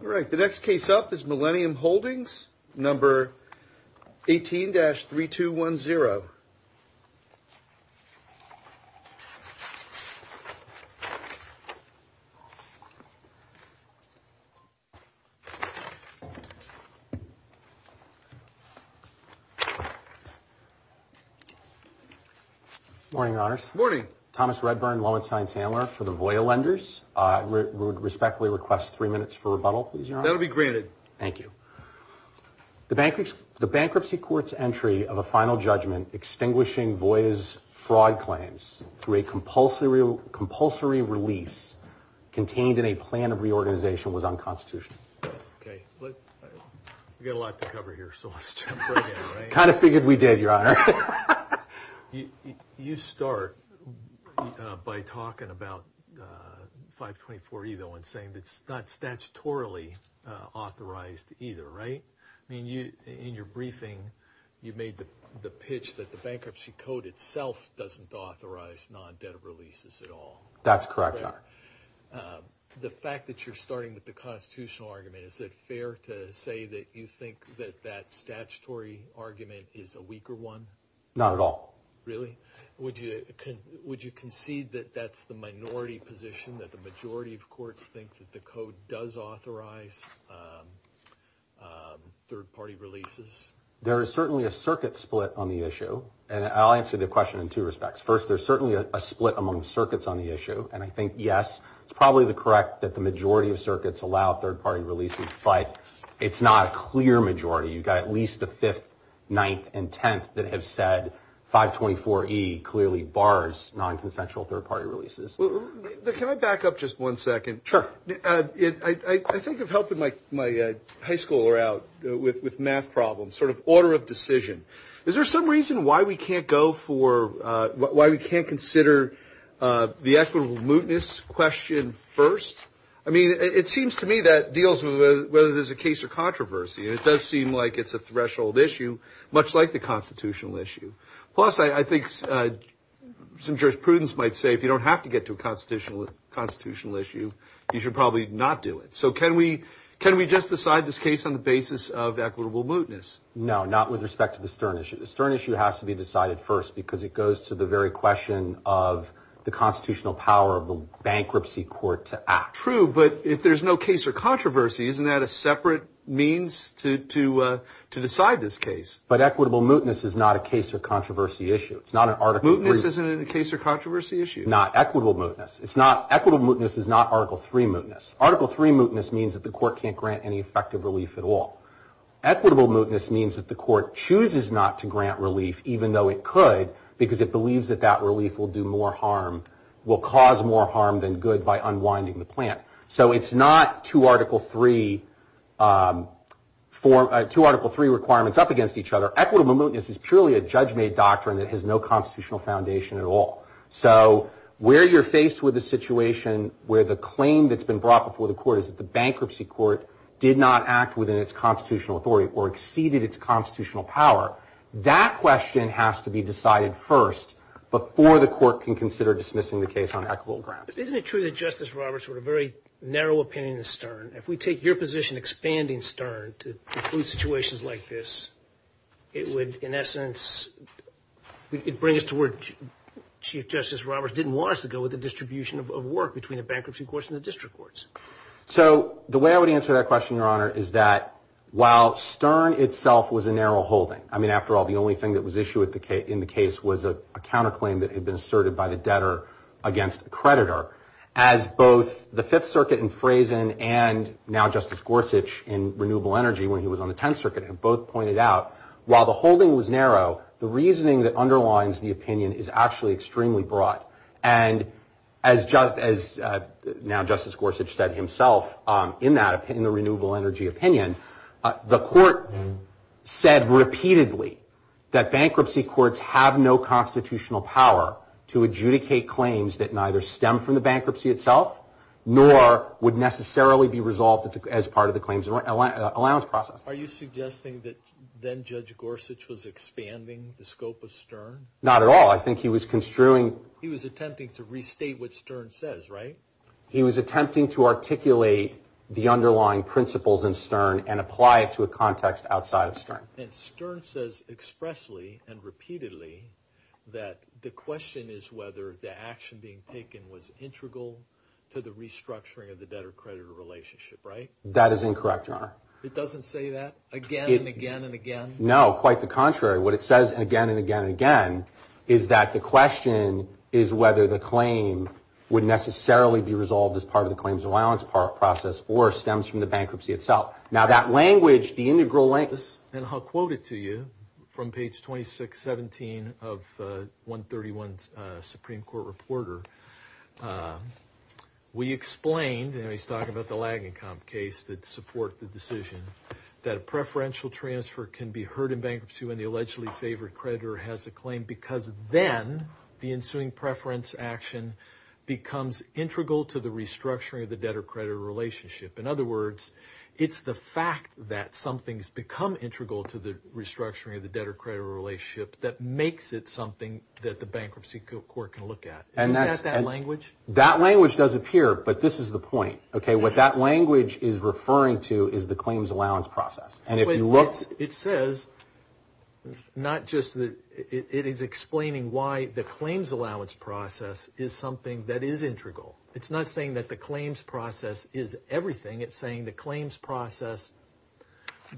All right, the next case up is Millenium Holdings, number 18-3210. Morning, Your Honors. Morning. Thomas Redburn, Lowenstein Sandler for the Voya Lenders. I would respectfully request three minutes for rebuttal, please, Your Honor. That will be granted. Thank you. The bankruptcy court's entry of a final judgment extinguishing Voya's fraud claims through a compulsory release contained in a plan of reorganization was unconstitutional. Okay. We've got a lot to cover here, so let's jump right in. I kind of figured we did, Your Honor. You start by talking about 524E, though, and saying it's not statutorily authorized either, right? I mean, in your briefing, you made the pitch that the bankruptcy code itself doesn't authorize non-debt releases at all. That's correct, Your Honor. The fact that you're starting with the constitutional argument, is it fair to say that you think that that statutory argument is a weaker one? Not at all. Really? Would you concede that that's the minority position, that the majority of courts think that the code does authorize third-party releases? There is certainly a circuit split on the issue, and I'll answer the question in two respects. First, there's certainly a split among the circuits on the issue, and I think, yes, it's probably correct that the majority of circuits allow third-party releases, but it's not a clear majority. You've got at least the 5th, 9th, and 10th that have said 524E clearly bars non-consensual third-party releases. Can I back up just one second? Sure. I think of helping my high schooler out with math problems, sort of order of decision. Is there some reason why we can't consider the equitable mootness question first? I mean, it seems to me that deals with whether there's a case or controversy, and it does seem like it's a threshold issue, much like the constitutional issue. Plus, I think some jurisprudence might say if you don't have to get to a constitutional issue, you should probably not do it. So can we just decide this case on the basis of equitable mootness? No, not with respect to the Stern issue. The Stern issue has to be decided first because it goes to the very question of the constitutional power of the bankruptcy court to act. True, but if there's no case or controversy, isn't that a separate means to decide this case? But equitable mootness is not a case or controversy issue. Mootness isn't a case or controversy issue? Not equitable mootness. Equitable mootness is not Article III mootness. Article III mootness means that the court can't grant any effective relief at all. Equitable mootness means that the court chooses not to grant relief even though it could because it believes that that relief will do more harm, will cause more harm than good by unwinding the plant. So it's not two Article III requirements up against each other. Equitable mootness is purely a judge-made doctrine that has no constitutional foundation at all. So where you're faced with a situation where the claim that's been brought before the court is that the bankruptcy court did not act within its constitutional authority or exceeded its constitutional power, that question has to be decided first before the court can consider dismissing the case on equitable grants. Isn't it true that Justice Roberts wrote a very narrow opinion in Stern? If we take your position expanding Stern to include situations like this, it would, in essence, it brings us to where Chief Justice Roberts didn't want us to go with the distribution of work between the bankruptcy courts and the district courts. So the way I would answer that question, Your Honor, is that while Stern itself was a narrow holding, I mean, after all, the only thing that was issued in the case was a counterclaim that had been asserted by the debtor against the creditor, as both the Fifth Circuit in Frazen and now Justice Gorsuch in Renewable Energy when he was on the Tenth Circuit have both pointed out, while the holding was narrow, the reasoning that underlines the opinion is actually extremely broad. And as now Justice Gorsuch said himself in that, in the Renewable Energy opinion, the court said repeatedly that bankruptcy courts have no constitutional power to adjudicate claims that neither stem from the bankruptcy itself nor would necessarily be resolved as part of the claims allowance process. Are you suggesting that then Judge Gorsuch was expanding the scope of Stern? Not at all. I think he was construing. He was attempting to restate what Stern says, right? He was attempting to articulate the underlying principles in Stern and apply it to a context outside of Stern. And Stern says expressly and repeatedly that the question is whether the action being taken was integral to the restructuring of the debtor-creditor relationship, right? That is incorrect, Your Honor. It doesn't say that again and again and again? No, quite the contrary. What it says again and again and again is that the question is whether the claim would necessarily be resolved as part of the claims allowance process or stems from the bankruptcy itself. Now that language, the integral language, and I'll quote it to you from page 2617 of 131 Supreme Court Reporter. We explained, and he's talking about the lagging comp case that support the decision, that a preferential transfer can be heard in bankruptcy when the allegedly favored creditor has the claim because then the ensuing preference action becomes integral to the restructuring of the debtor-creditor relationship. In other words, it's the fact that something's become integral to the restructuring of the debtor-creditor relationship that makes it something that the bankruptcy court can look at. Isn't that that language? That language does appear, but this is the point, okay? What that language is referring to is the claims allowance process. And if you look. It says not just that it is explaining why the claims allowance process is something that is integral. It's not saying that the claims process is everything. It's saying the claims process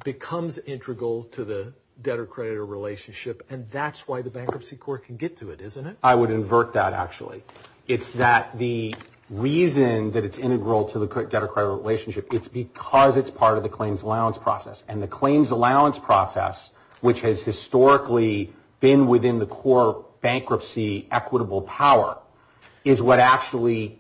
becomes integral to the debtor-creditor relationship and that's why the bankruptcy court can get to it, isn't it? I would invert that actually. It's that the reason that it's integral to the debtor-creditor relationship, it's because it's part of the claims allowance process. And the claims allowance process, which has historically been within the core bankruptcy equitable power, is what actually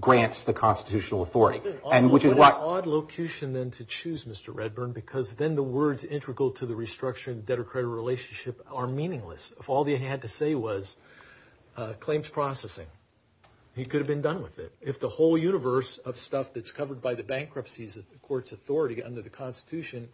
grants the constitutional authority. And which is what. What an odd locution then to choose, Mr. Redburn, because then the words integral to the restructuring of the debtor-creditor relationship are meaningless. If all he had to say was claims processing, he could have been done with it. If the whole universe of stuff that's covered by the bankruptcies of the court's authority under the constitution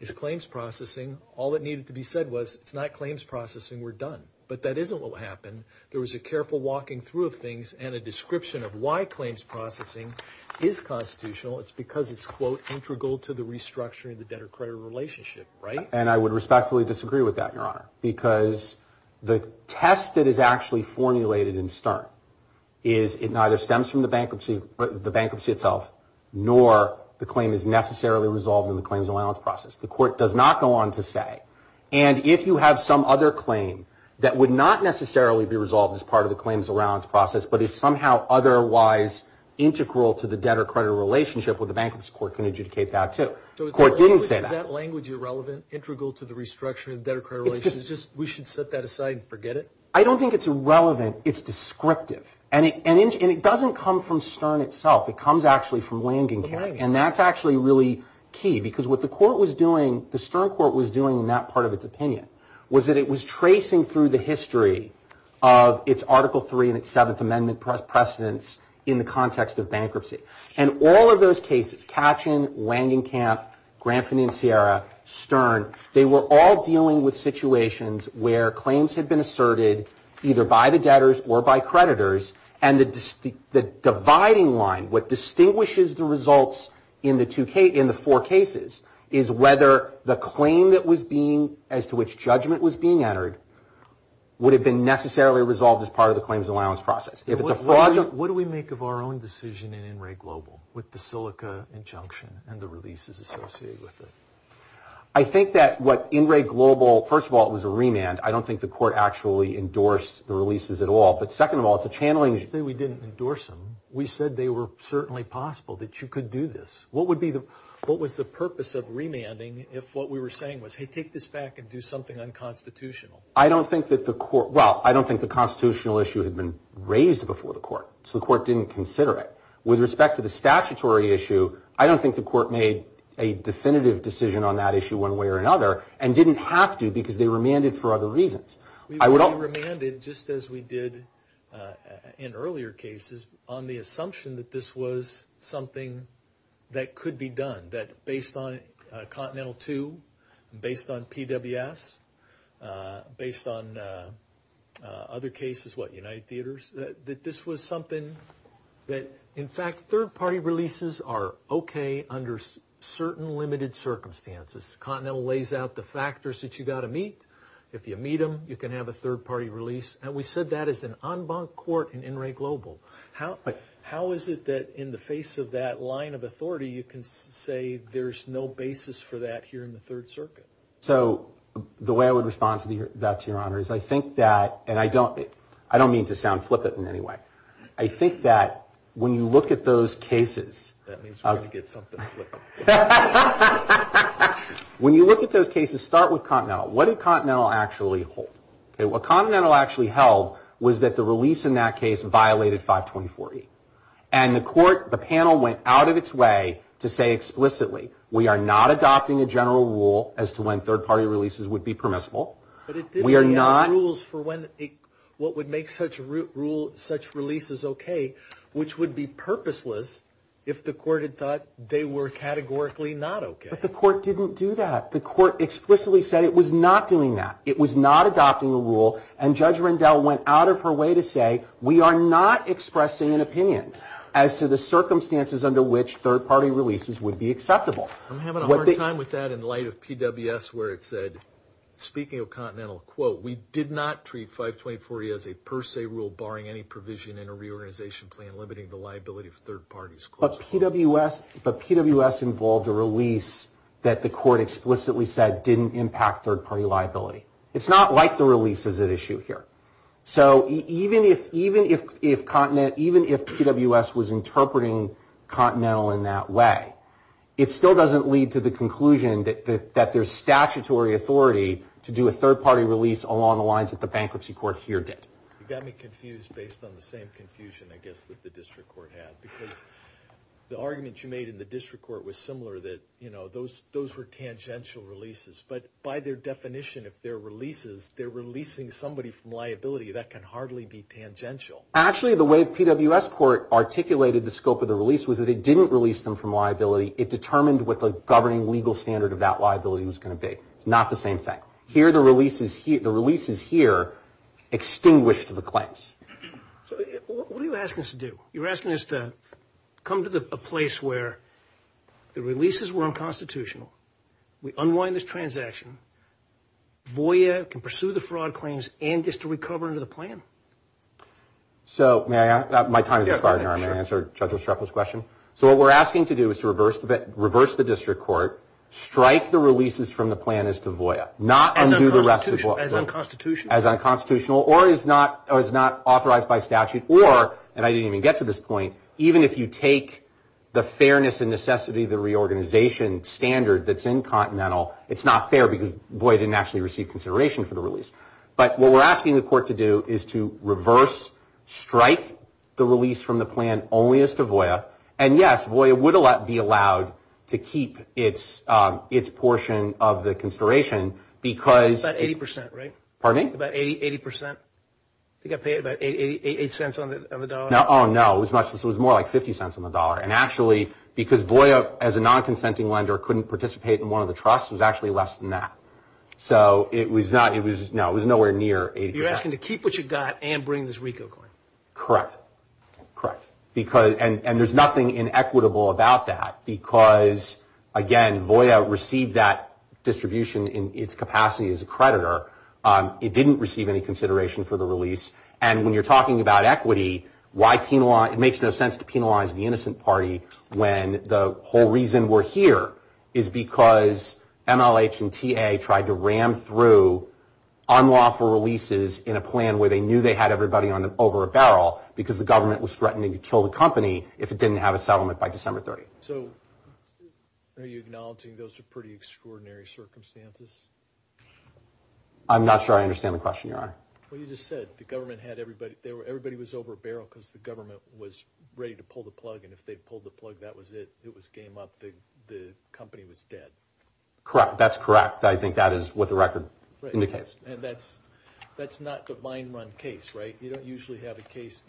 is claims processing, all that needed to be said was it's not claims processing. We're done. But that isn't what happened. There was a careful walking through of things and a description of why claims processing is constitutional. It's because it's, quote, integral to the restructuring of the debtor-creditor relationship, right? And I would respectfully disagree with that, Your Honor, because the test that is actually formulated in Stern is it neither stems from the bankruptcy itself, nor the claim is necessarily resolved in the claims allowance process. The court does not go on to say. And if you have some other claim that would not necessarily be resolved as part of the claims allowance process, but is somehow otherwise integral to the debtor-creditor relationship with the bankruptcy court can adjudicate that too. The court didn't say that. Is that language irrelevant, integral to the restructuring of the debtor-creditor relationship? We should set that aside and forget it? I don't think it's irrelevant. It's descriptive. And it doesn't come from Stern itself. It comes actually from Langenkamp. And that's actually really key. Because what the court was doing, the Stern court was doing in that part of its opinion, was that it was tracing through the history of its Article III and its Seventh Amendment precedents in the context of bankruptcy. And all of those cases, Katchen, Langenkamp, Granfini and Sierra, Stern, they were all dealing with situations where claims had been asserted either by the debtors or by creditors. And the dividing line, what distinguishes the results in the four cases, is whether the claim that was being, as to which judgment was being entered, would have been necessarily resolved as part of the claims allowance process. What do we make of our own decision in In Re Global with the Silica injunction and the releases associated with it? I think that what In Re Global, first of all, it was a remand. I don't think the court actually endorsed the releases at all. But second of all, it's a channeling. You say we didn't endorse them. We said they were certainly possible, that you could do this. What was the purpose of remanding if what we were saying was, hey, take this back and do something unconstitutional? I don't think that the court, well, I don't think the constitutional issue had been raised before the court. So the court didn't consider it. With respect to the statutory issue, I don't think the court made a definitive decision on that issue one way or another, and didn't have to because they remanded for other reasons. We were remanded, just as we did in earlier cases, on the assumption that this was something that could be done, that based on Continental II, based on PWS, based on other cases, what, United Theaters, that this was something that, in fact, third-party releases are okay under certain limited circumstances. Continental lays out the factors that you've got to meet. If you meet them, you can have a third-party release. And we said that as an en banc court in In Re Global. How is it that in the face of that line of authority, you can say there's no basis for that here in the Third Circuit? So the way I would respond to that, Your Honor, is I think that, and I don't mean to sound flippant in any way, I think that when you look at those cases. That means we're going to get something flippant. When you look at those cases, start with Continental. What did Continental actually hold? What Continental actually held was that the release in that case violated 520-40. And the court, the panel went out of its way to say explicitly, we are not adopting a general rule as to when third-party releases would be permissible. We are not. Rules for when, what would make such releases okay, which would be purposeless if the court had thought they were categorically not okay. But the court didn't do that. The court explicitly said it was not doing that. It was not adopting a rule. And Judge Rendell went out of her way to say, we are not expressing an opinion as to the circumstances under which third-party releases would be acceptable. I'm having a hard time with that in light of PWS where it said, speaking of Continental, quote, we did not treat 520-40 as a per se rule barring any provision in a reorganization plan limiting the liability of third parties. But PWS involved a release that the court explicitly said didn't impact third-party liability. It's not like the releases at issue here. So even if PWS was interpreting Continental in that way, it still doesn't lead to the conclusion that there's statutory authority to do a third-party release along the lines that the bankruptcy court here did. You got me confused based on the same confusion, I guess, that the district court had. Because the argument you made in the district court was similar that, you know, those were tangential releases. But by their definition, if they're releases, they're releasing somebody from liability. That can hardly be tangential. Actually, the way PWS court articulated the scope of the release was that it didn't release them from liability. It determined what the governing legal standard of that liability was going to be. It's not the same thing. Here, the releases here extinguished the claims. So what are you asking us to do? You're asking us to come to a place where the releases were unconstitutional. We unwind this transaction. VOIA can pursue the fraud claims and just to recover under the plan. So may I? My time is expired now. May I answer Judge Ostroffel's question? So what we're asking to do is to reverse the district court, strike the releases from the plan as to VOIA, not undo the rest of the book. As unconstitutional? As unconstitutional or is not authorized by statute or, and I didn't even get to this point, even if you take the fairness and necessity of the reorganization standard that's incontinental, it's not fair because VOIA didn't actually receive consideration for the release. But what we're asking the court to do is to reverse, strike the release from the plan only as to VOIA. And yes, VOIA would be allowed to keep its portion of the consideration because... About 80%, right? Pardon me? About 80%. I think I paid about 88 cents on the dollar. Oh, no, it was more like 50 cents on the dollar. And actually, because VOIA as a non-consenting lender couldn't participate in one of the trusts, it was actually less than that. So it was nowhere near 80%. You're asking to keep what you got and bring this RICO coin? Correct. Correct. And there's nothing inequitable about that because, again, VOIA received that distribution in its capacity as a creditor. It didn't receive any consideration for the release. And when you're talking about equity, it makes no sense to penalize the innocent party when the whole reason we're here is because MLH and TA tried to ram through unlawful releases in a plan where they knew they had everybody over a barrel because the government was threatening to kill the company if it didn't have a settlement by December 30th. So are you acknowledging those are pretty extraordinary circumstances? I'm not sure I understand the question, your honor. Well, you just said the government had everybody. Everybody was over a barrel because the government was ready to pull the plug. And if they pulled the plug, that was it. It was game up. The company was dead. Correct. That's correct. I think that is what the record indicates. And that's not the mine run case, right? You don't usually have a case.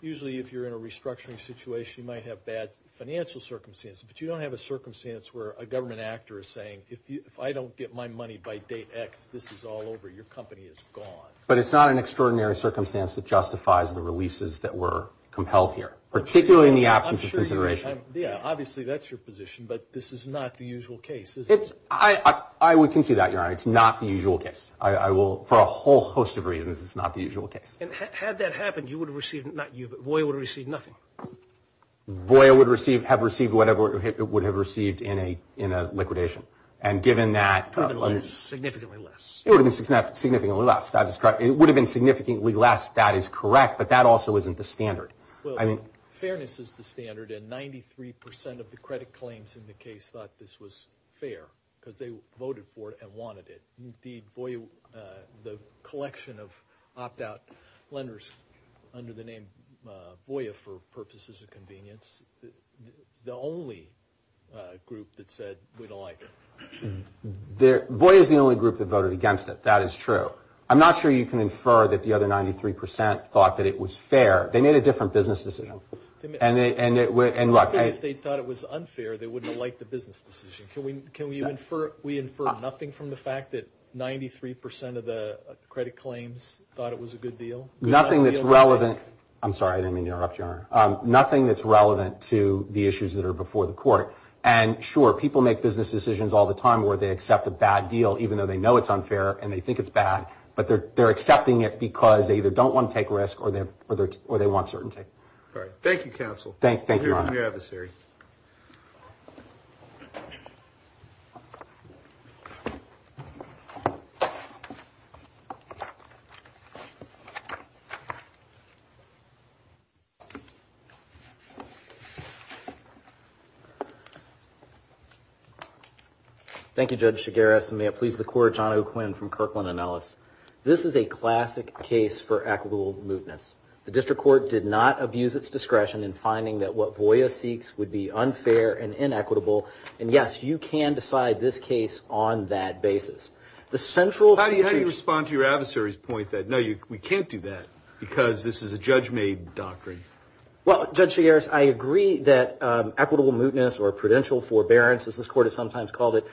Usually, if you're in a restructuring situation, you might have bad financial circumstances, but you don't have a circumstance where a government actor is saying, if I don't get my money by date X, this is all over. Your company is gone. But it's not an extraordinary circumstance that justifies the releases that were compelled here, particularly in the absence of consideration. Yeah, obviously, that's your position, but this is not the usual case, is it? I would concede that, your honor. It's not the usual case. I will, for a whole host of reasons, it's not the usual case. And had that happened, you would have received, not you, but Voya would have received nothing. Voya would have received whatever it would have received in a liquidation. And given that... Significantly less. It would have been significantly less. That is correct. It would have been significantly less. That is correct, but that also isn't the standard. Well, fairness is the standard, and 93% of the credit claims in the case thought this was fair because they voted for it and wanted it. Indeed, Voya, the collection of opt-out lenders under the name Voya for purposes of convenience, the only group that said we don't like it. Voya is the only group that voted against it. That is true. I'm not sure you can infer that the other 93% thought that it was fair. They made a different business decision. And look... I'm not saying if they thought it was unfair, they wouldn't have liked the business decision. Can we infer nothing from the fact that 93% of the credit claims thought it was a good deal? Nothing that's relevant... I'm sorry, I didn't mean to interrupt you, Honor. Nothing that's relevant to the issues that are before the court. And sure, people make business decisions all the time where they accept a bad deal even though they know it's unfair and they think it's bad. But they're accepting it because they either don't want to take risk or they want certainty. All right. Thank you, Counsel. Thank you, Honor. Thank you, Adversary. Thank you, Judge Chigares. And may it please the Court, John O'Quinn from Kirkland & Ellis. This is a classic case for equitable mootness. The District Court did not abuse its discretion in finding that what Voya seeks would be unfair and inequitable. And yes, you can decide this case on that basis. The central... How do you respond to your adversary's point that, no, we can't do that because this is a judge-made doctrine? Well, Judge Chigares, I agree that equitable mootness or prudential forbearance, as this Court has sometimes called it,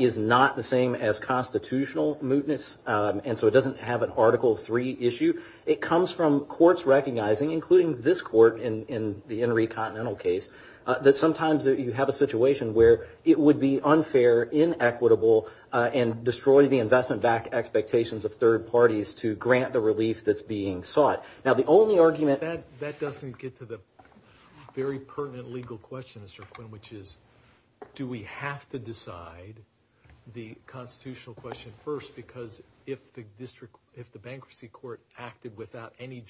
is not the same as constitutional mootness. And so it doesn't have an Article III issue. It comes from courts recognizing, including this Court in the where it would be unfair, inequitable, and destroy the investment-backed expectations of third parties to grant the relief that's being sought. Now, the only argument... That doesn't get to the very pertinent legal question, Mr. O'Quinn, which is, do we have to decide the constitutional question first? Because if the Bankruptcy Court acted without any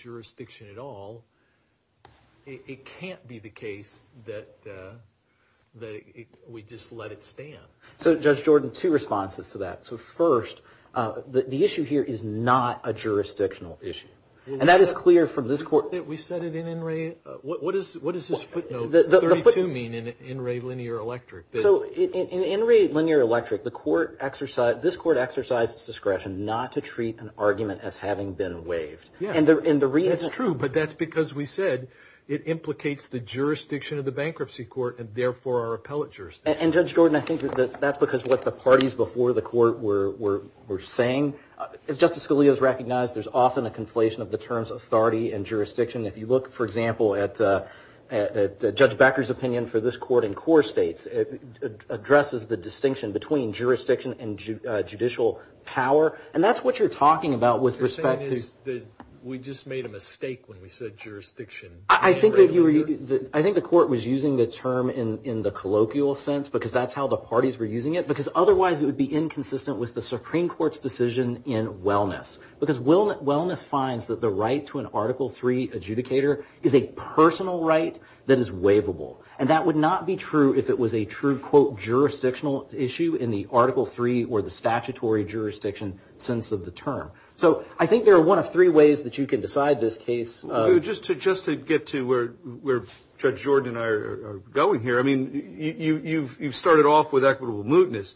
we'd just let it stand. So, Judge Jordan, two responses to that. So, first, the issue here is not a jurisdictional issue. And that is clear from this Court... We said it in In Re... What does this footnote, 32, mean in In Re Linear Electric? So, in In Re Linear Electric, this Court exercised its discretion not to treat an argument as having been waived. And the reason... That's true, but that's because we said it implicates the jurisdiction of the Bankruptcy Court and, therefore, our And, Judge Jordan, I think that that's because what the parties before the Court were saying. As Justice Scalia has recognized, there's often a conflation of the terms authority and jurisdiction. If you look, for example, at Judge Becker's opinion for this Court in core states, it addresses the distinction between jurisdiction and judicial power. And that's what you're talking about with respect to... What you're saying is that we just made a mistake when we said jurisdiction. I think that you were... in the colloquial sense, because that's how the parties were using it. Because, otherwise, it would be inconsistent with the Supreme Court's decision in wellness. Because wellness finds that the right to an Article III adjudicator is a personal right that is waivable. And that would not be true if it was a true, quote, jurisdictional issue in the Article III or the statutory jurisdiction sense of the term. So, I think there are one of three ways that you can decide this case. Just to get to where Judge Jordan and I are going here, I mean, you've started off with equitable mootness.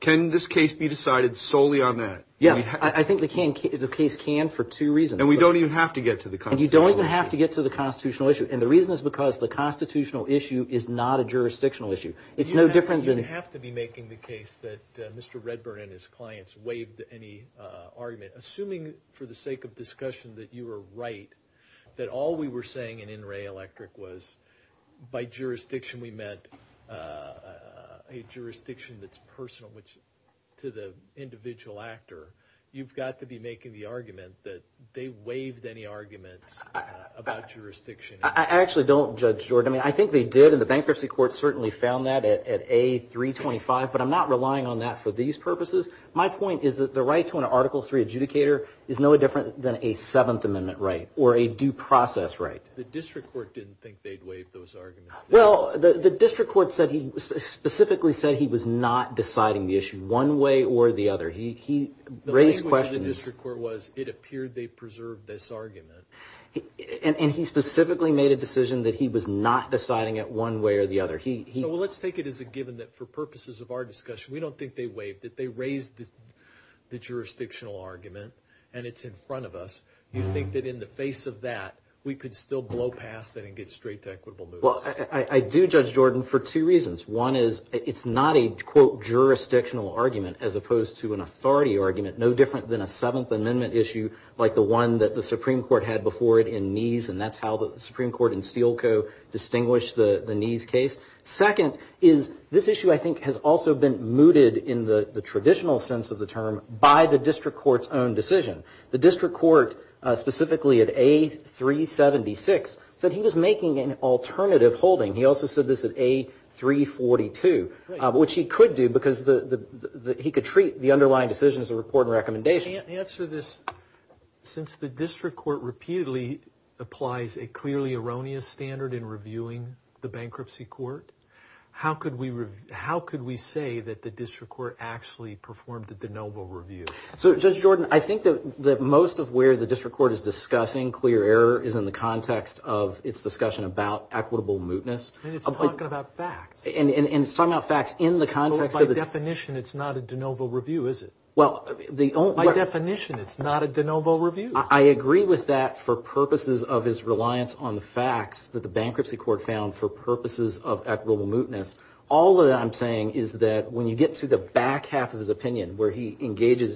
Can this case be decided solely on that? Yes, I think the case can for two reasons. And we don't even have to get to the constitutional issue. And you don't even have to get to the constitutional issue. And the reason is because the constitutional issue is not a jurisdictional issue. It's no different than... You have to be making the case that Mr. Redburn and his clients waived any argument, assuming for the sake of that all we were saying in In Re Electric was by jurisdiction we meant a jurisdiction that's personal to the individual actor. You've got to be making the argument that they waived any arguments about jurisdiction. I actually don't, Judge Jordan. I mean, I think they did. And the Bankruptcy Court certainly found that at A325. But I'm not relying on that for these purposes. My point is that the right to an Article III adjudicator is no different than a Seventh Amendment right or a due process right. The District Court didn't think they'd waive those arguments. Well, the District Court said he specifically said he was not deciding the issue one way or the other. He raised questions. The language of the District Court was it appeared they preserved this argument. And he specifically made a decision that he was not deciding it one way or the other. He... Well, let's take it as a given that for purposes of our discussion, we don't think they waived it. They raised the jurisdictional argument. And it's in front of us. You think that in the face of that, we could still blow past it and get straight to equitable moves? Well, I do, Judge Jordan, for two reasons. One is it's not a, quote, jurisdictional argument as opposed to an authority argument, no different than a Seventh Amendment issue like the one that the Supreme Court had before it in Neese. And that's how the Supreme Court and Steele Co. distinguished the Neese case. Second is this issue, I think, has also been mooted in the traditional sense of the term by the District Court's own decision. The District Court, specifically at A376, said he was making an alternative holding. He also said this at A342, which he could do because he could treat the underlying decision as a report and recommendation. I can't answer this. Since the District Court repeatedly applies a clearly erroneous standard in reviewing the bankruptcy court, how could we say that the District Court actually performed the de novo review? So, Judge Jordan, I think that most of where the District Court is discussing clear error is in the context of its discussion about equitable mootness. And it's talking about facts. And it's talking about facts in the context of its... By definition, it's not a de novo review, is it? Well, the only... By definition, it's not a de novo review. I agree with that for purposes of his reliance on the facts that the bankruptcy court found for purposes of equitable mootness. All that I'm saying is that when you get to the point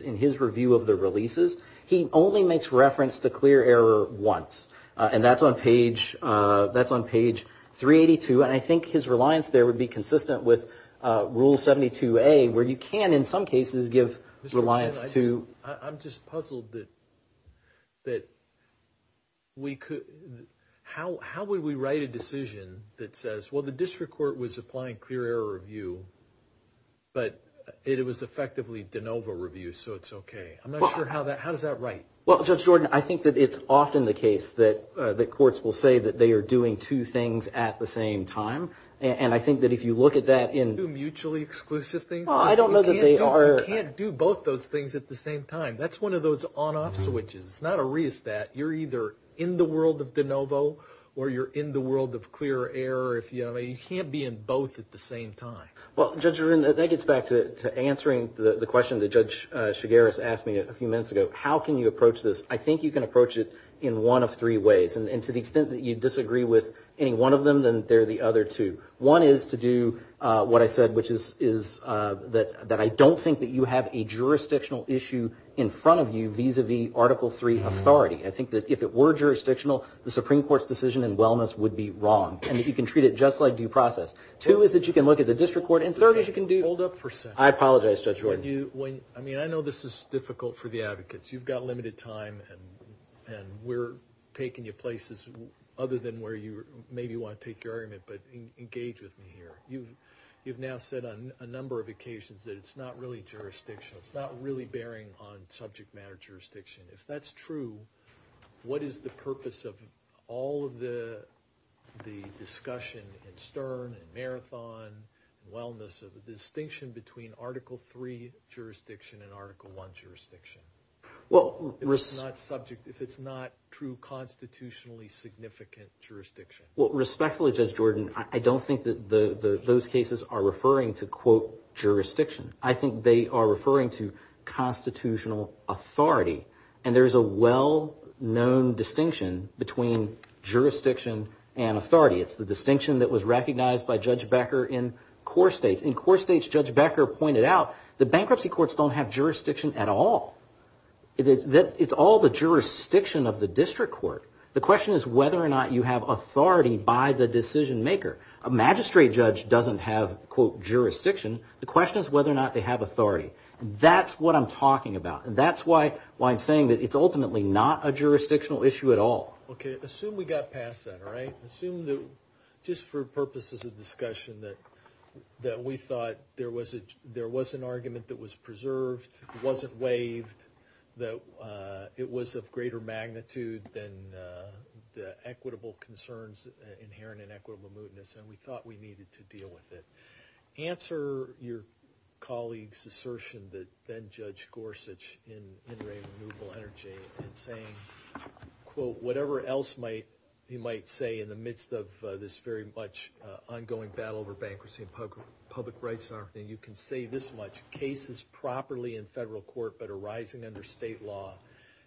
in his review of the releases, he only makes reference to clear error once. And that's on page 382. And I think his reliance there would be consistent with Rule 72A, where you can, in some cases, give reliance to... I'm just puzzled that we could... How would we write a decision that says, well, the District Court was applying clear error review, but it was effectively de novo review, so it's okay. I'm not sure how that... How does that write? Well, Judge Jordan, I think that it's often the case that the courts will say that they are doing two things at the same time. And I think that if you look at that in... Two mutually exclusive things? Well, I don't know that they are... You can't do both those things at the same time. That's one of those on-off switches. It's not a re-estat. You're either in the world of de novo or you're in the world of clear error. You can't be in both at the same time. Well, Judge Jordan, that gets back to answering the question that Judge Chigueras asked me a few minutes ago. How can you approach this? I think you can approach it in one of three ways, and to the extent that you disagree with any one of them, then they're the other two. One is to do what I said, which is that I don't think that you have a jurisdictional issue in front of you vis-a-vis Article III authority. I think that if it were jurisdictional, the Supreme Court's decision in wellness would be wrong, and that you can treat it just like due process. Two is that you can look at the district court, and third is you can do... Hold up for a second. I apologize, Judge Jordan. I mean, I know this is difficult for the advocates. You've got limited time, and we're taking you places other than where you maybe want to take your argument, but engage with me here. You've now said on a number of occasions that it's not really jurisdictional. It's not really bearing on subject matter jurisdiction. If that's true, what is the purpose of all of the discussion in Stern and Marathon and wellness of the distinction between Article III jurisdiction and Article I jurisdiction? If it's not true constitutionally significant jurisdiction? Well, respectfully, Judge Jordan, I don't think that those cases are referring to, quote, jurisdiction. I think they are referring to constitutional authority, and there's a well-known distinction between jurisdiction and authority. It's the distinction that was recognized by Judge Becker in core states. In core states, Judge Becker pointed out that bankruptcy courts don't have jurisdiction at all. It's all the jurisdiction of the district court. The question is whether or not you have authority by the decision maker. A magistrate judge doesn't have, quote, jurisdiction. The question is whether or not they have authority. That's what I'm talking about, and that's why I'm saying that it's ultimately not a jurisdictional issue at all. Okay. Assume we got past that, all right? Assume that, just for purposes of discussion, that we thought there was an argument that was preserved, wasn't waived, that it was of greater magnitude than the equitable concerns inherent in equitable mootness, and we thought we needed to deal with it. Answer your colleague's assertion that then-Judge Gorsuch in In Re Renewable Energy in saying, quote, whatever else he might say in the midst of this very much ongoing battle over bankruptcy and public rights, and you can say this much, cases properly in federal court but arising under state law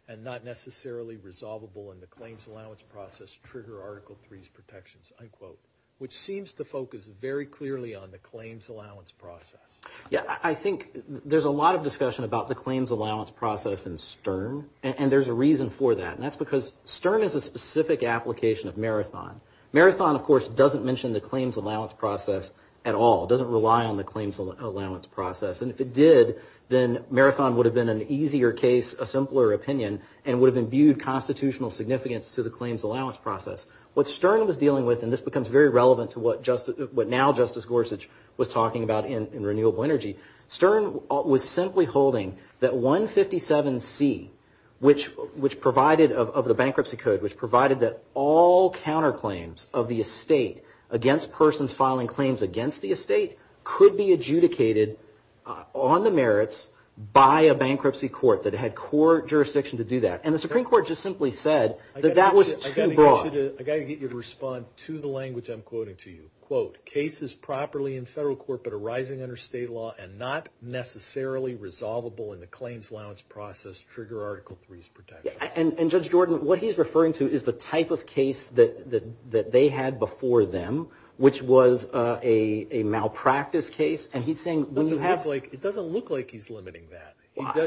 and not necessarily resolvable in the claims allowance process trigger Article III's protections, unquote, which seems to focus very clearly on the claims allowance process. Yeah, I think there's a lot of discussion about the claims allowance process in Stern, and there's a reason for that, and that's because Stern is a specific application of Marathon. Marathon, of course, doesn't mention the claims allowance process at all. It doesn't rely on the claims allowance process, and if it did, then Marathon would have been an easier case, a simpler opinion, and would have imbued constitutional significance to the claims allowance process. What Stern was dealing with, and this becomes very relevant to what now-Justice Gorsuch was talking about in Renewable Energy, Stern was simply holding that 157C, which provided, of the bankruptcy code, which provided that all counterclaims of the estate against persons filing claims against the estate could be adjudicated on the merits by a bankruptcy court that had core jurisdiction to do that, and the Supreme Court just simply said that that was too broad. I got to get you to respond to the language I'm quoting to you, quote, cases properly in federal court but arising under state law and not necessarily resolvable in the claims allowance process trigger Article 3's protection. And Judge Jordan, what he's referring to is the type of case that they had before them, which was a malpractice case, and he's saying when you have-It doesn't look like he's limiting that.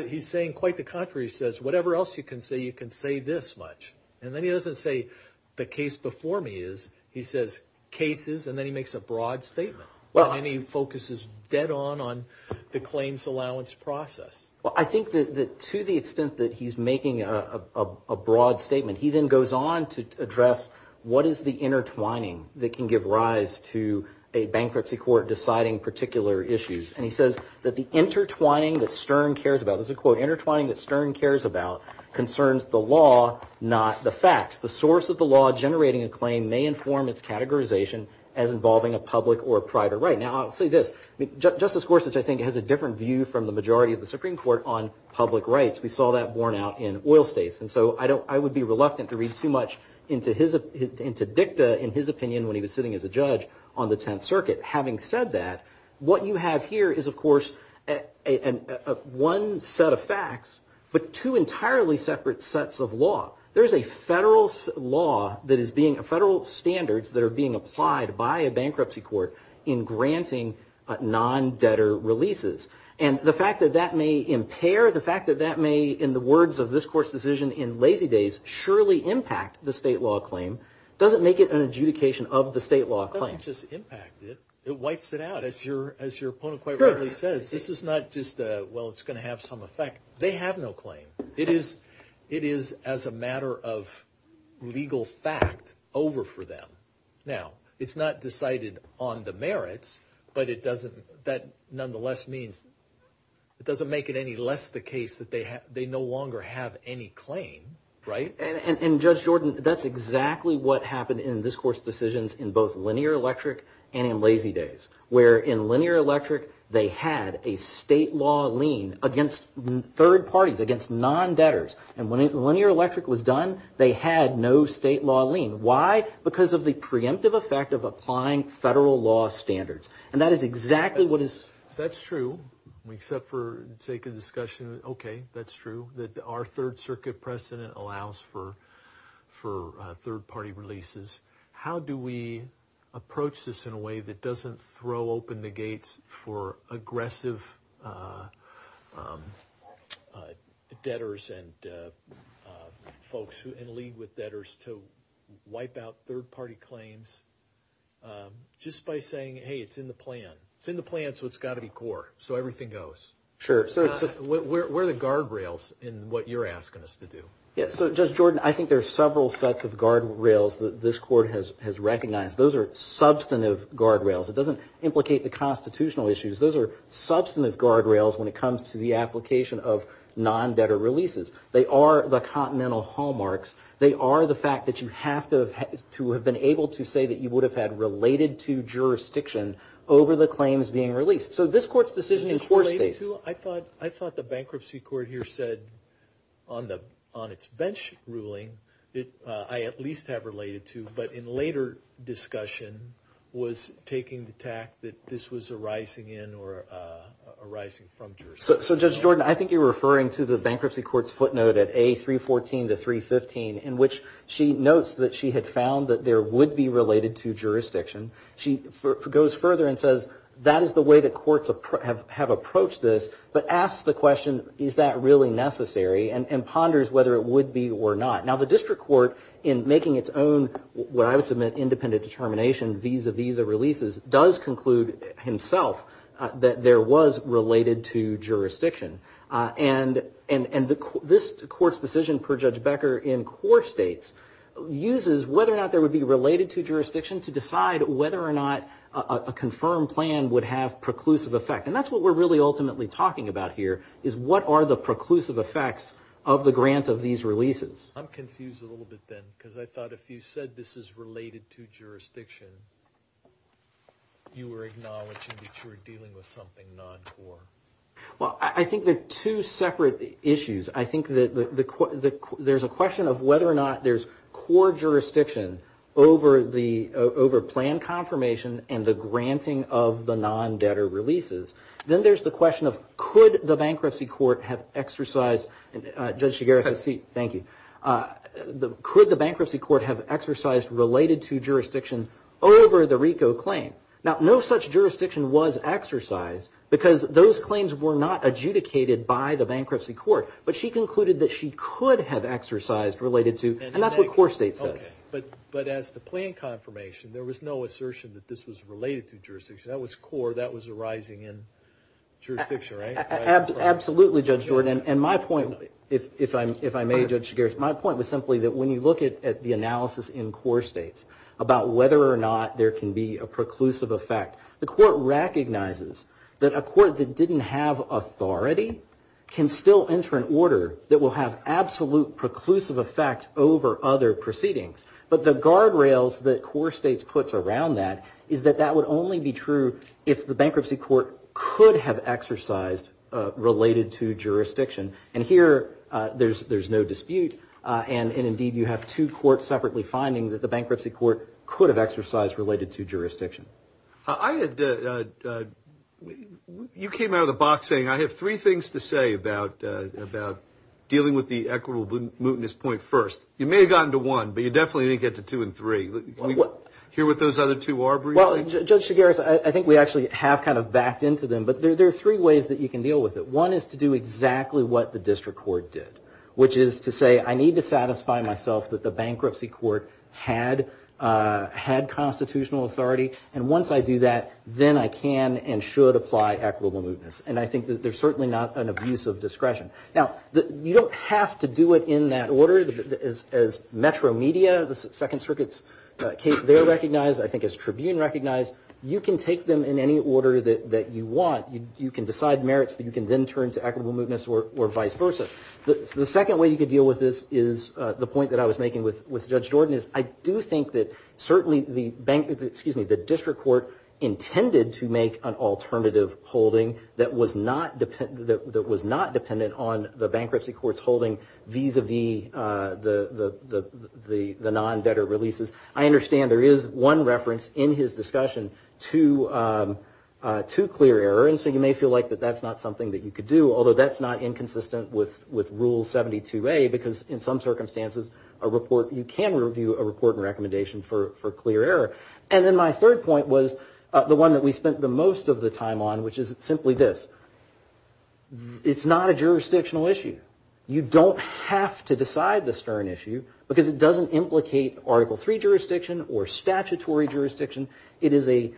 He's saying quite the contrary. He says whatever else you can say, you can say this much, and then he doesn't say the case before me is, he says cases, and then he makes a broad statement, and then he focuses dead-on on the claims allowance process. Well, I think that to the extent that he's making a broad statement, he then goes on to address what is the intertwining that can give rise to a bankruptcy court deciding particular issues, and he says that the intertwining that Stern cares about, this is a quote, intertwining that Stern cares about concerns the law, not the facts. The source of the law generating a claim may inform its categorization as involving a public or private right. Now, I'll say this, Justice Gorsuch, I think, has a different view from the majority of the Supreme Court on public rights. We saw that borne out in oil states, and so I don't-I would be reluctant to read too much into his-into Dicta, in his opinion, when he was sitting as a judge on the Tenth Circuit. Having said that, what you have here is, of course, one set of facts, but two entirely separate sets of law. There's a federal law that is being-federal standards that are being applied by a bankruptcy court in granting non-debtor leases, and the fact that that may impair, the fact that that may, in the words of this Court's decision in Lazy Days, surely impact the state law claim, doesn't make it an adjudication of the state law claim. It doesn't just impact it, it wipes it out. As your-as your opponent quite rightly says, this is not just a, well, it's going to have some effect. They have no claim. It is-it is as a matter of legal fact over for them. Now, it's not decided on the merits, but it doesn't-that nonetheless means it doesn't make it any less the case that they have-they no longer have any claim, right? And-and Judge Jordan, that's exactly what happened in this Court's decisions in both Linear Electric and in Lazy Days, where in Linear Electric, they had a state law lien against third parties, against non-debtors, and when Linear Electric was done, they had no state law lien. Why? Because of the preemptive effect of applying federal law standards, and that is exactly what is- That's true, except for sake of discussion. Okay, that's true, that our Third Circuit precedent allows for-for third-party releases. How do we approach this in a way that doesn't throw open the gates for aggressive debtors and folks who-and lead with debtors to wipe out third-party claims just by saying, hey, it's in the plan. It's in the plan, so it's got to be core, so everything goes. Sure. So where are the guardrails in what you're asking us to do? Yeah, so Judge Jordan, I think there are several sets of guardrails that this Court has-has recognized. Those are substantive guardrails. It doesn't implicate the constitutional issues. Those are substantive guardrails when it comes to the application of non-debtor releases. They are the continental hallmarks. They are the fact that you have to have-to have been able to say that you would have had related to jurisdiction over the claims being released. So this Court's decision in court space- Is this related to-I thought-I thought the Bankruptcy Court here said on the-on its bench ruling that I at least have related to, but in later discussion was taking the tact that this was arising in or arising from jurisdiction. So Judge Jordan, I think you're referring to the Bankruptcy Court's footnote at A314 to 315 in which she notes that she had found that there would be related to jurisdiction. She goes further and says, that is the way that courts have approached this, but asks the question, is that really necessary? And ponders whether it would be or not. Now the District Court, in making its own, what I would submit, independent determination vis-a-vis the releases, does conclude himself that there was related to jurisdiction. And this Court's decision per Judge Becker in court states uses whether or not there would be related to jurisdiction to decide whether or not a confirmed plan would have preclusive effect. And that's what we're really ultimately talking about here, is what are the preclusive effects of the grant of these releases? I'm confused a little bit then, because I thought if you said this is related to jurisdiction, you were acknowledging that you were dealing with something non-core. Well, I think they're two separate issues. I think that the-there's a question of whether or not there's core jurisdiction over the-over plan confirmation and the granting of the non-debtor releases. Then there's the question of, could the Bankruptcy Court have exercised-Judge Shigera, have a seat. Thank you. The-could the Bankruptcy Court have exercised related to jurisdiction over the RICO claim? Now, no such jurisdiction was exercised, because those claims were not adjudicated by the Bankruptcy Court, but she concluded that she could have exercised related to-and that's what core state says. But-but as the plan confirmation, there was no assertion that this was related to jurisdiction. That was core. That was arising in jurisdiction, right? Absolutely, Judge Jordan. And my point, if I may, Judge Shigera, my point was simply that when you look at the analysis in core states about whether or not there can be a preclusive effect, the court recognizes that a court that didn't have authority can still enter an order that will have absolute preclusive effect over other proceedings. But the guardrails that core states puts around that is that that would only be true if the Bankruptcy Court could have exercised related to jurisdiction. And here, there's-there's no dispute. And-and indeed, you have two courts separately finding that the Bankruptcy Court could have exercised related to jurisdiction. I had-you came out of the box saying I have three things to say about-about dealing with the equitable mootness point first. You may have gotten to one, but you definitely didn't get to two and three. Can we hear what those other two are briefly? Well, Judge Shigera, I think we actually have kind of backed into them, but there are three ways that you can deal with it. One is to do exactly what the District Court did, which is to say I need to satisfy myself that the Bankruptcy Court had-had constitutional authority. And once I do that, then I can and should apply equitable mootness. And I think that there's certainly not an abuse of discretion. Now, you don't have to do it in that order as-as Metro Media, the Second Circuit's case, they're recognized. I think as Tribune recognized, you can take them in any order that-that you want. You-you can decide merits that you can then turn to equitable mootness or-or vice versa. The second way you could deal with this is the point that I was making with-with Judge Jordan is I do think that certainly the Bankruptcy-excuse me, the District Court intended to make an alternative holding that was not depend-that was not dependent on the Bankruptcy Court's holding vis-a-vis the-the-the non-debtor releases. I understand there is one reference in his discussion to-to clear error. And so you may feel like that that's not something that you could do, although that's not inconsistent with-with Rule 72a because in some circumstances a report-you can review a report and recommendation for-for clear error. And then my third point was the one that we spent the most of the time on, which is simply this. It's not a jurisdictional issue. You don't have to decide the stern issue because it doesn't implicate Article III jurisdiction or statutory jurisdiction. It is a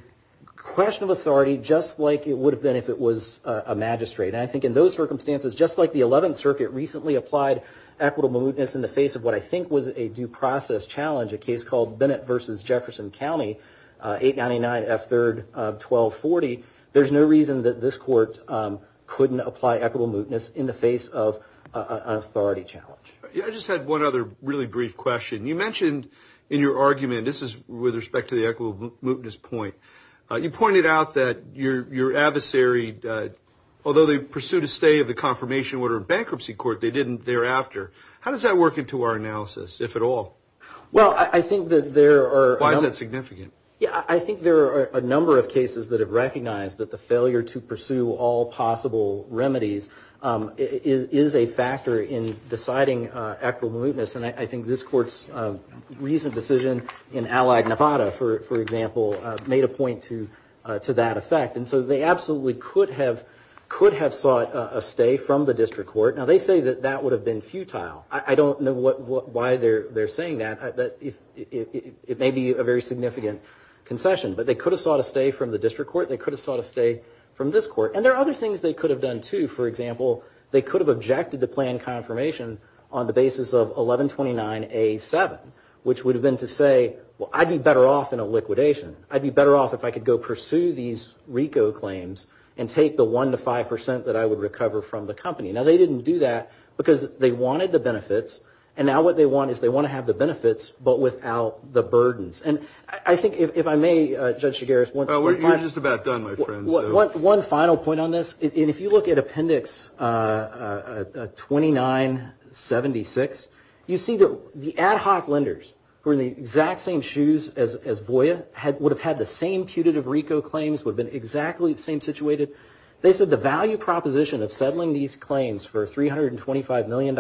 question of authority just like it would have been if it was a magistrate. And I think in those circumstances, just like the Eleventh Circuit recently applied equitable mootness in the face of what I think was a due process challenge, a case called Bennett v. Jefferson County, 899F3-1240, there's no reason that this Court couldn't apply equitable mootness in the face of an authority challenge. I just had one other really brief question. You mentioned in your argument, this is with respect to the equitable mootness point, you pointed out that your-your adversary, although they pursued a stay of the confirmation order in bankruptcy court, they didn't thereafter. How does that work into our analysis, if at all? Well, I think that there are- Why is that significant? Yeah, I think there are a number of cases that have recognized that the failure to pursue all possible remedies is a factor in deciding equitable mootness. And I think this Court's recent decision in Allied Nevada, for example, made a point to that effect. And so they absolutely could have-could have sought a stay from the district court. Now, they say that that would have been futile. I don't know what-why they're-they're saying that, that it may be a very significant concession. But they could have sought a stay from the district court. They could have sought a stay from this court. And there are other things they could have done, too. For example, they could have objected to plan confirmation on the basis of 1129A7, which would have been to say, well, I'd be better off in a liquidation. I'd be better off if I could go pursue these RICO claims and take the 1 to 5% that I would recover from the company. Now, they didn't do that because they wanted to have the benefits. And now what they want is they want to have the benefits, but without the burdens. And I think, if I may, Judge Chigares, one- Well, you're just about done, my friend. One-one final point on this, and if you look at Appendix 2976, you see that the ad hoc lenders, who are in the exact same shoes as Voya, had-would have had the same putative RICO claims, would have been exactly the same situated. They said the value proposition of settling these claims for a $325 million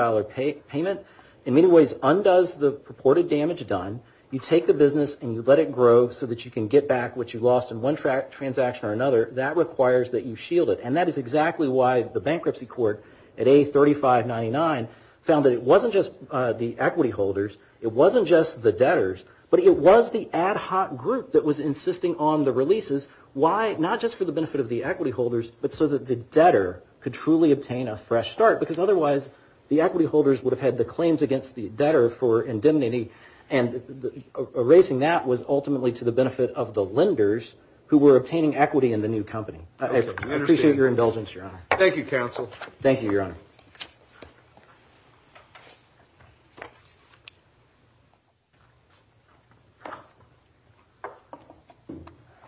payment, in many ways, undoes the purported damage done. You take the business and you let it grow so that you can get back what you lost in one transaction or another. That requires that you shield it. And that is exactly why the bankruptcy court at A3599 found that it wasn't just the equity holders, it wasn't just the debtors, but it was the ad hoc group that was insisting on the releases. Why? Not just for the benefit of the equity holders, but so that the debtor could truly obtain a fresh start, because otherwise, the equity holders would have had the claims against the debtor for indemnity, and erasing that was ultimately to the benefit of the lenders who were obtaining equity in the new company. I appreciate your indulgence, Your Honor. Thank you, counsel. Thank you, Your Honor.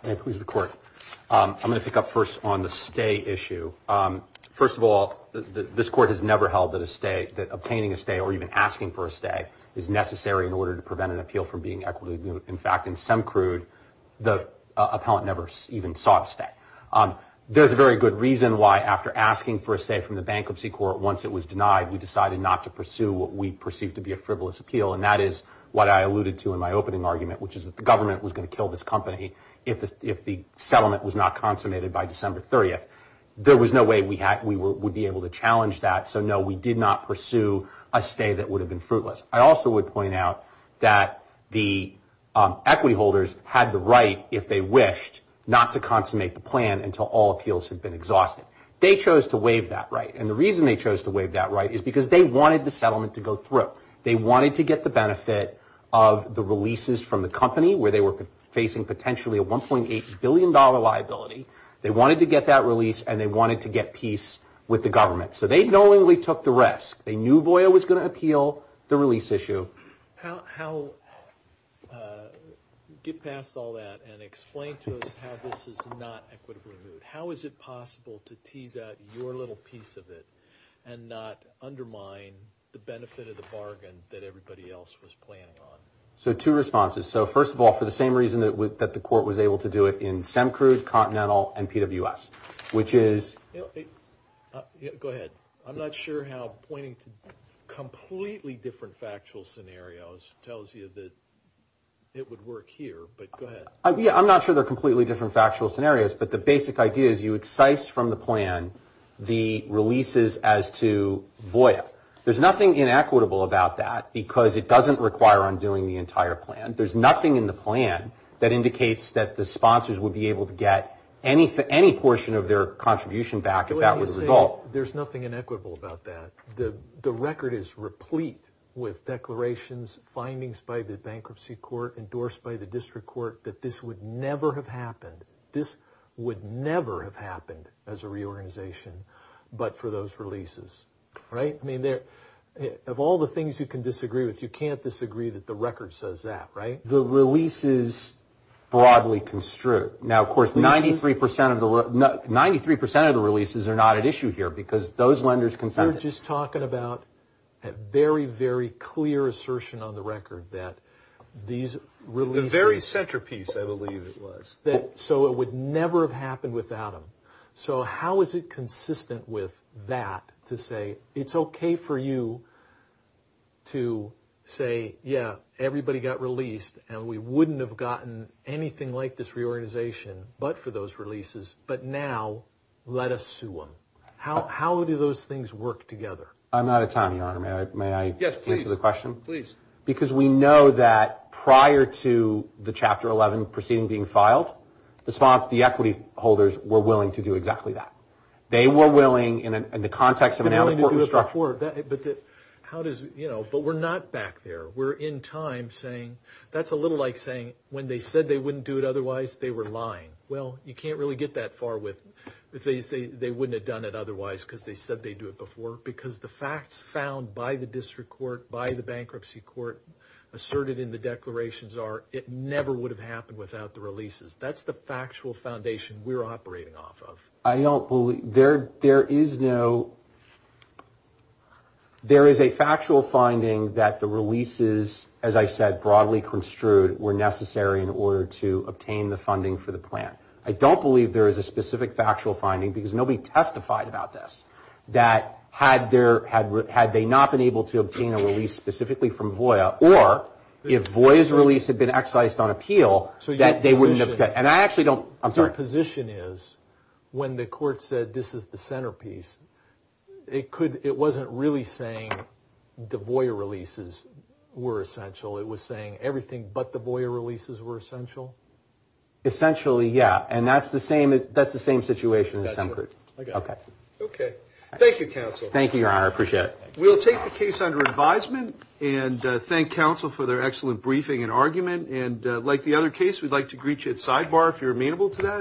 May it please the Court. I'm going to pick up first on the stay issue. First of all, this Court has never held that a stay, that obtaining a stay or even asking for a stay, is necessary in order to prevent an appeal from being equitably moved. In fact, in Semcrude, the appellant never even sought a stay. There's a very good reason why after asking for a stay from the bankruptcy court, once it was denied, we decided not to pursue what we perceived to be a frivolous appeal. And that is what I alluded to in my opening argument, which is that the government was going to kill this company. If the settlement was not consummated by December 30th, there was no way we would be able to challenge that. So, no, we did not pursue a stay that would have been fruitless. I also would point out that the equity holders had the right, if they wished, not to consummate the plan until all appeals had been exhausted. They chose to waive that right. And the reason they chose to waive that right is because they wanted the settlement to go through. They wanted to get the benefit of the releases from the company where they were facing potentially a $1.8 billion liability. They wanted to get that release and they wanted to get peace with the government. So, they knowingly took the risk. They knew Voya was going to appeal the release issue. How, get past all that and explain to us how this is not equitably moved. How is it possible to tease out your little piece of it and not undermine the benefit of the bargain that everybody else was planning on? So, two responses. So, first of all, for the same reason that the court was able to do it in SEMCRUD, Continental, and PWS, which is... Go ahead. I'm not sure how pointing to completely different factual scenarios tells you that it would work here, but go ahead. Yeah, I'm not sure they're completely different factual scenarios, but the basic idea is you excise from the plan the releases as to Voya. There's nothing inequitable about that because it doesn't require undoing the entire plan. There's nothing in the plan that indicates that the sponsors would be able to get any portion of their contribution back if that was the result. There's nothing inequitable about that. The record is replete with declarations, findings by the bankruptcy court, endorsed by the district court, that this would never have happened. This would never have happened as a reorganization, but for those releases, right? I mean, of all the things you can disagree with, you can't disagree that the record says that, right? The releases broadly construe. Now, of course, 93% of the releases are not at issue here because those lenders consented. You're just talking about a very, very clear assertion on the record that these releases... The very centerpiece, I believe it was. So it would never have happened without them. So how is it consistent with that to say it's okay for you to say, yeah, everybody got released and we wouldn't have gotten anything like this reorganization, but for those releases, but now let us sue them. How do those things work together? I'm out of time, Your Honor. May I answer the question? Please. Because we know that prior to the Chapter 11 proceeding being filed, the equity holders were willing to do exactly that. They were willing, in the context of an important strike. They were willing to do it before, but how does, you know, but we're not back there. We're in time saying, that's a little like saying when they said they wouldn't do it otherwise, they were lying. Well, you can't really get that far with, if they say they wouldn't have done it otherwise because they said they'd do it before, because the facts found by the district court, by the bankruptcy court asserted in the declarations are it never would have happened without the releases. That's the factual foundation we're operating off of. I don't believe, there is a factual finding that the releases, as I said, broadly construed were necessary in order to obtain the funding for the plan. I don't believe there is a specific factual finding because nobody testified about this that had they not been able to obtain a release specifically from VOIA or if VOIA's release had been exercised on appeal, that they wouldn't have, and I actually don't, I'm sorry. The position is, when the court said this is the centerpiece, it could, it wasn't really saying the VOIA releases were essential. It was saying everything but the VOIA releases were essential. Essentially, yeah. And that's the same, that's the same situation in some groups. I got it. Okay. Okay. Thank you, counsel. Thank you, your honor. I appreciate it. We'll take the case under advisement and thank counsel for their excellent briefing and argument and like the other case, we'd like to greet you at sidebar if you're amenable to that.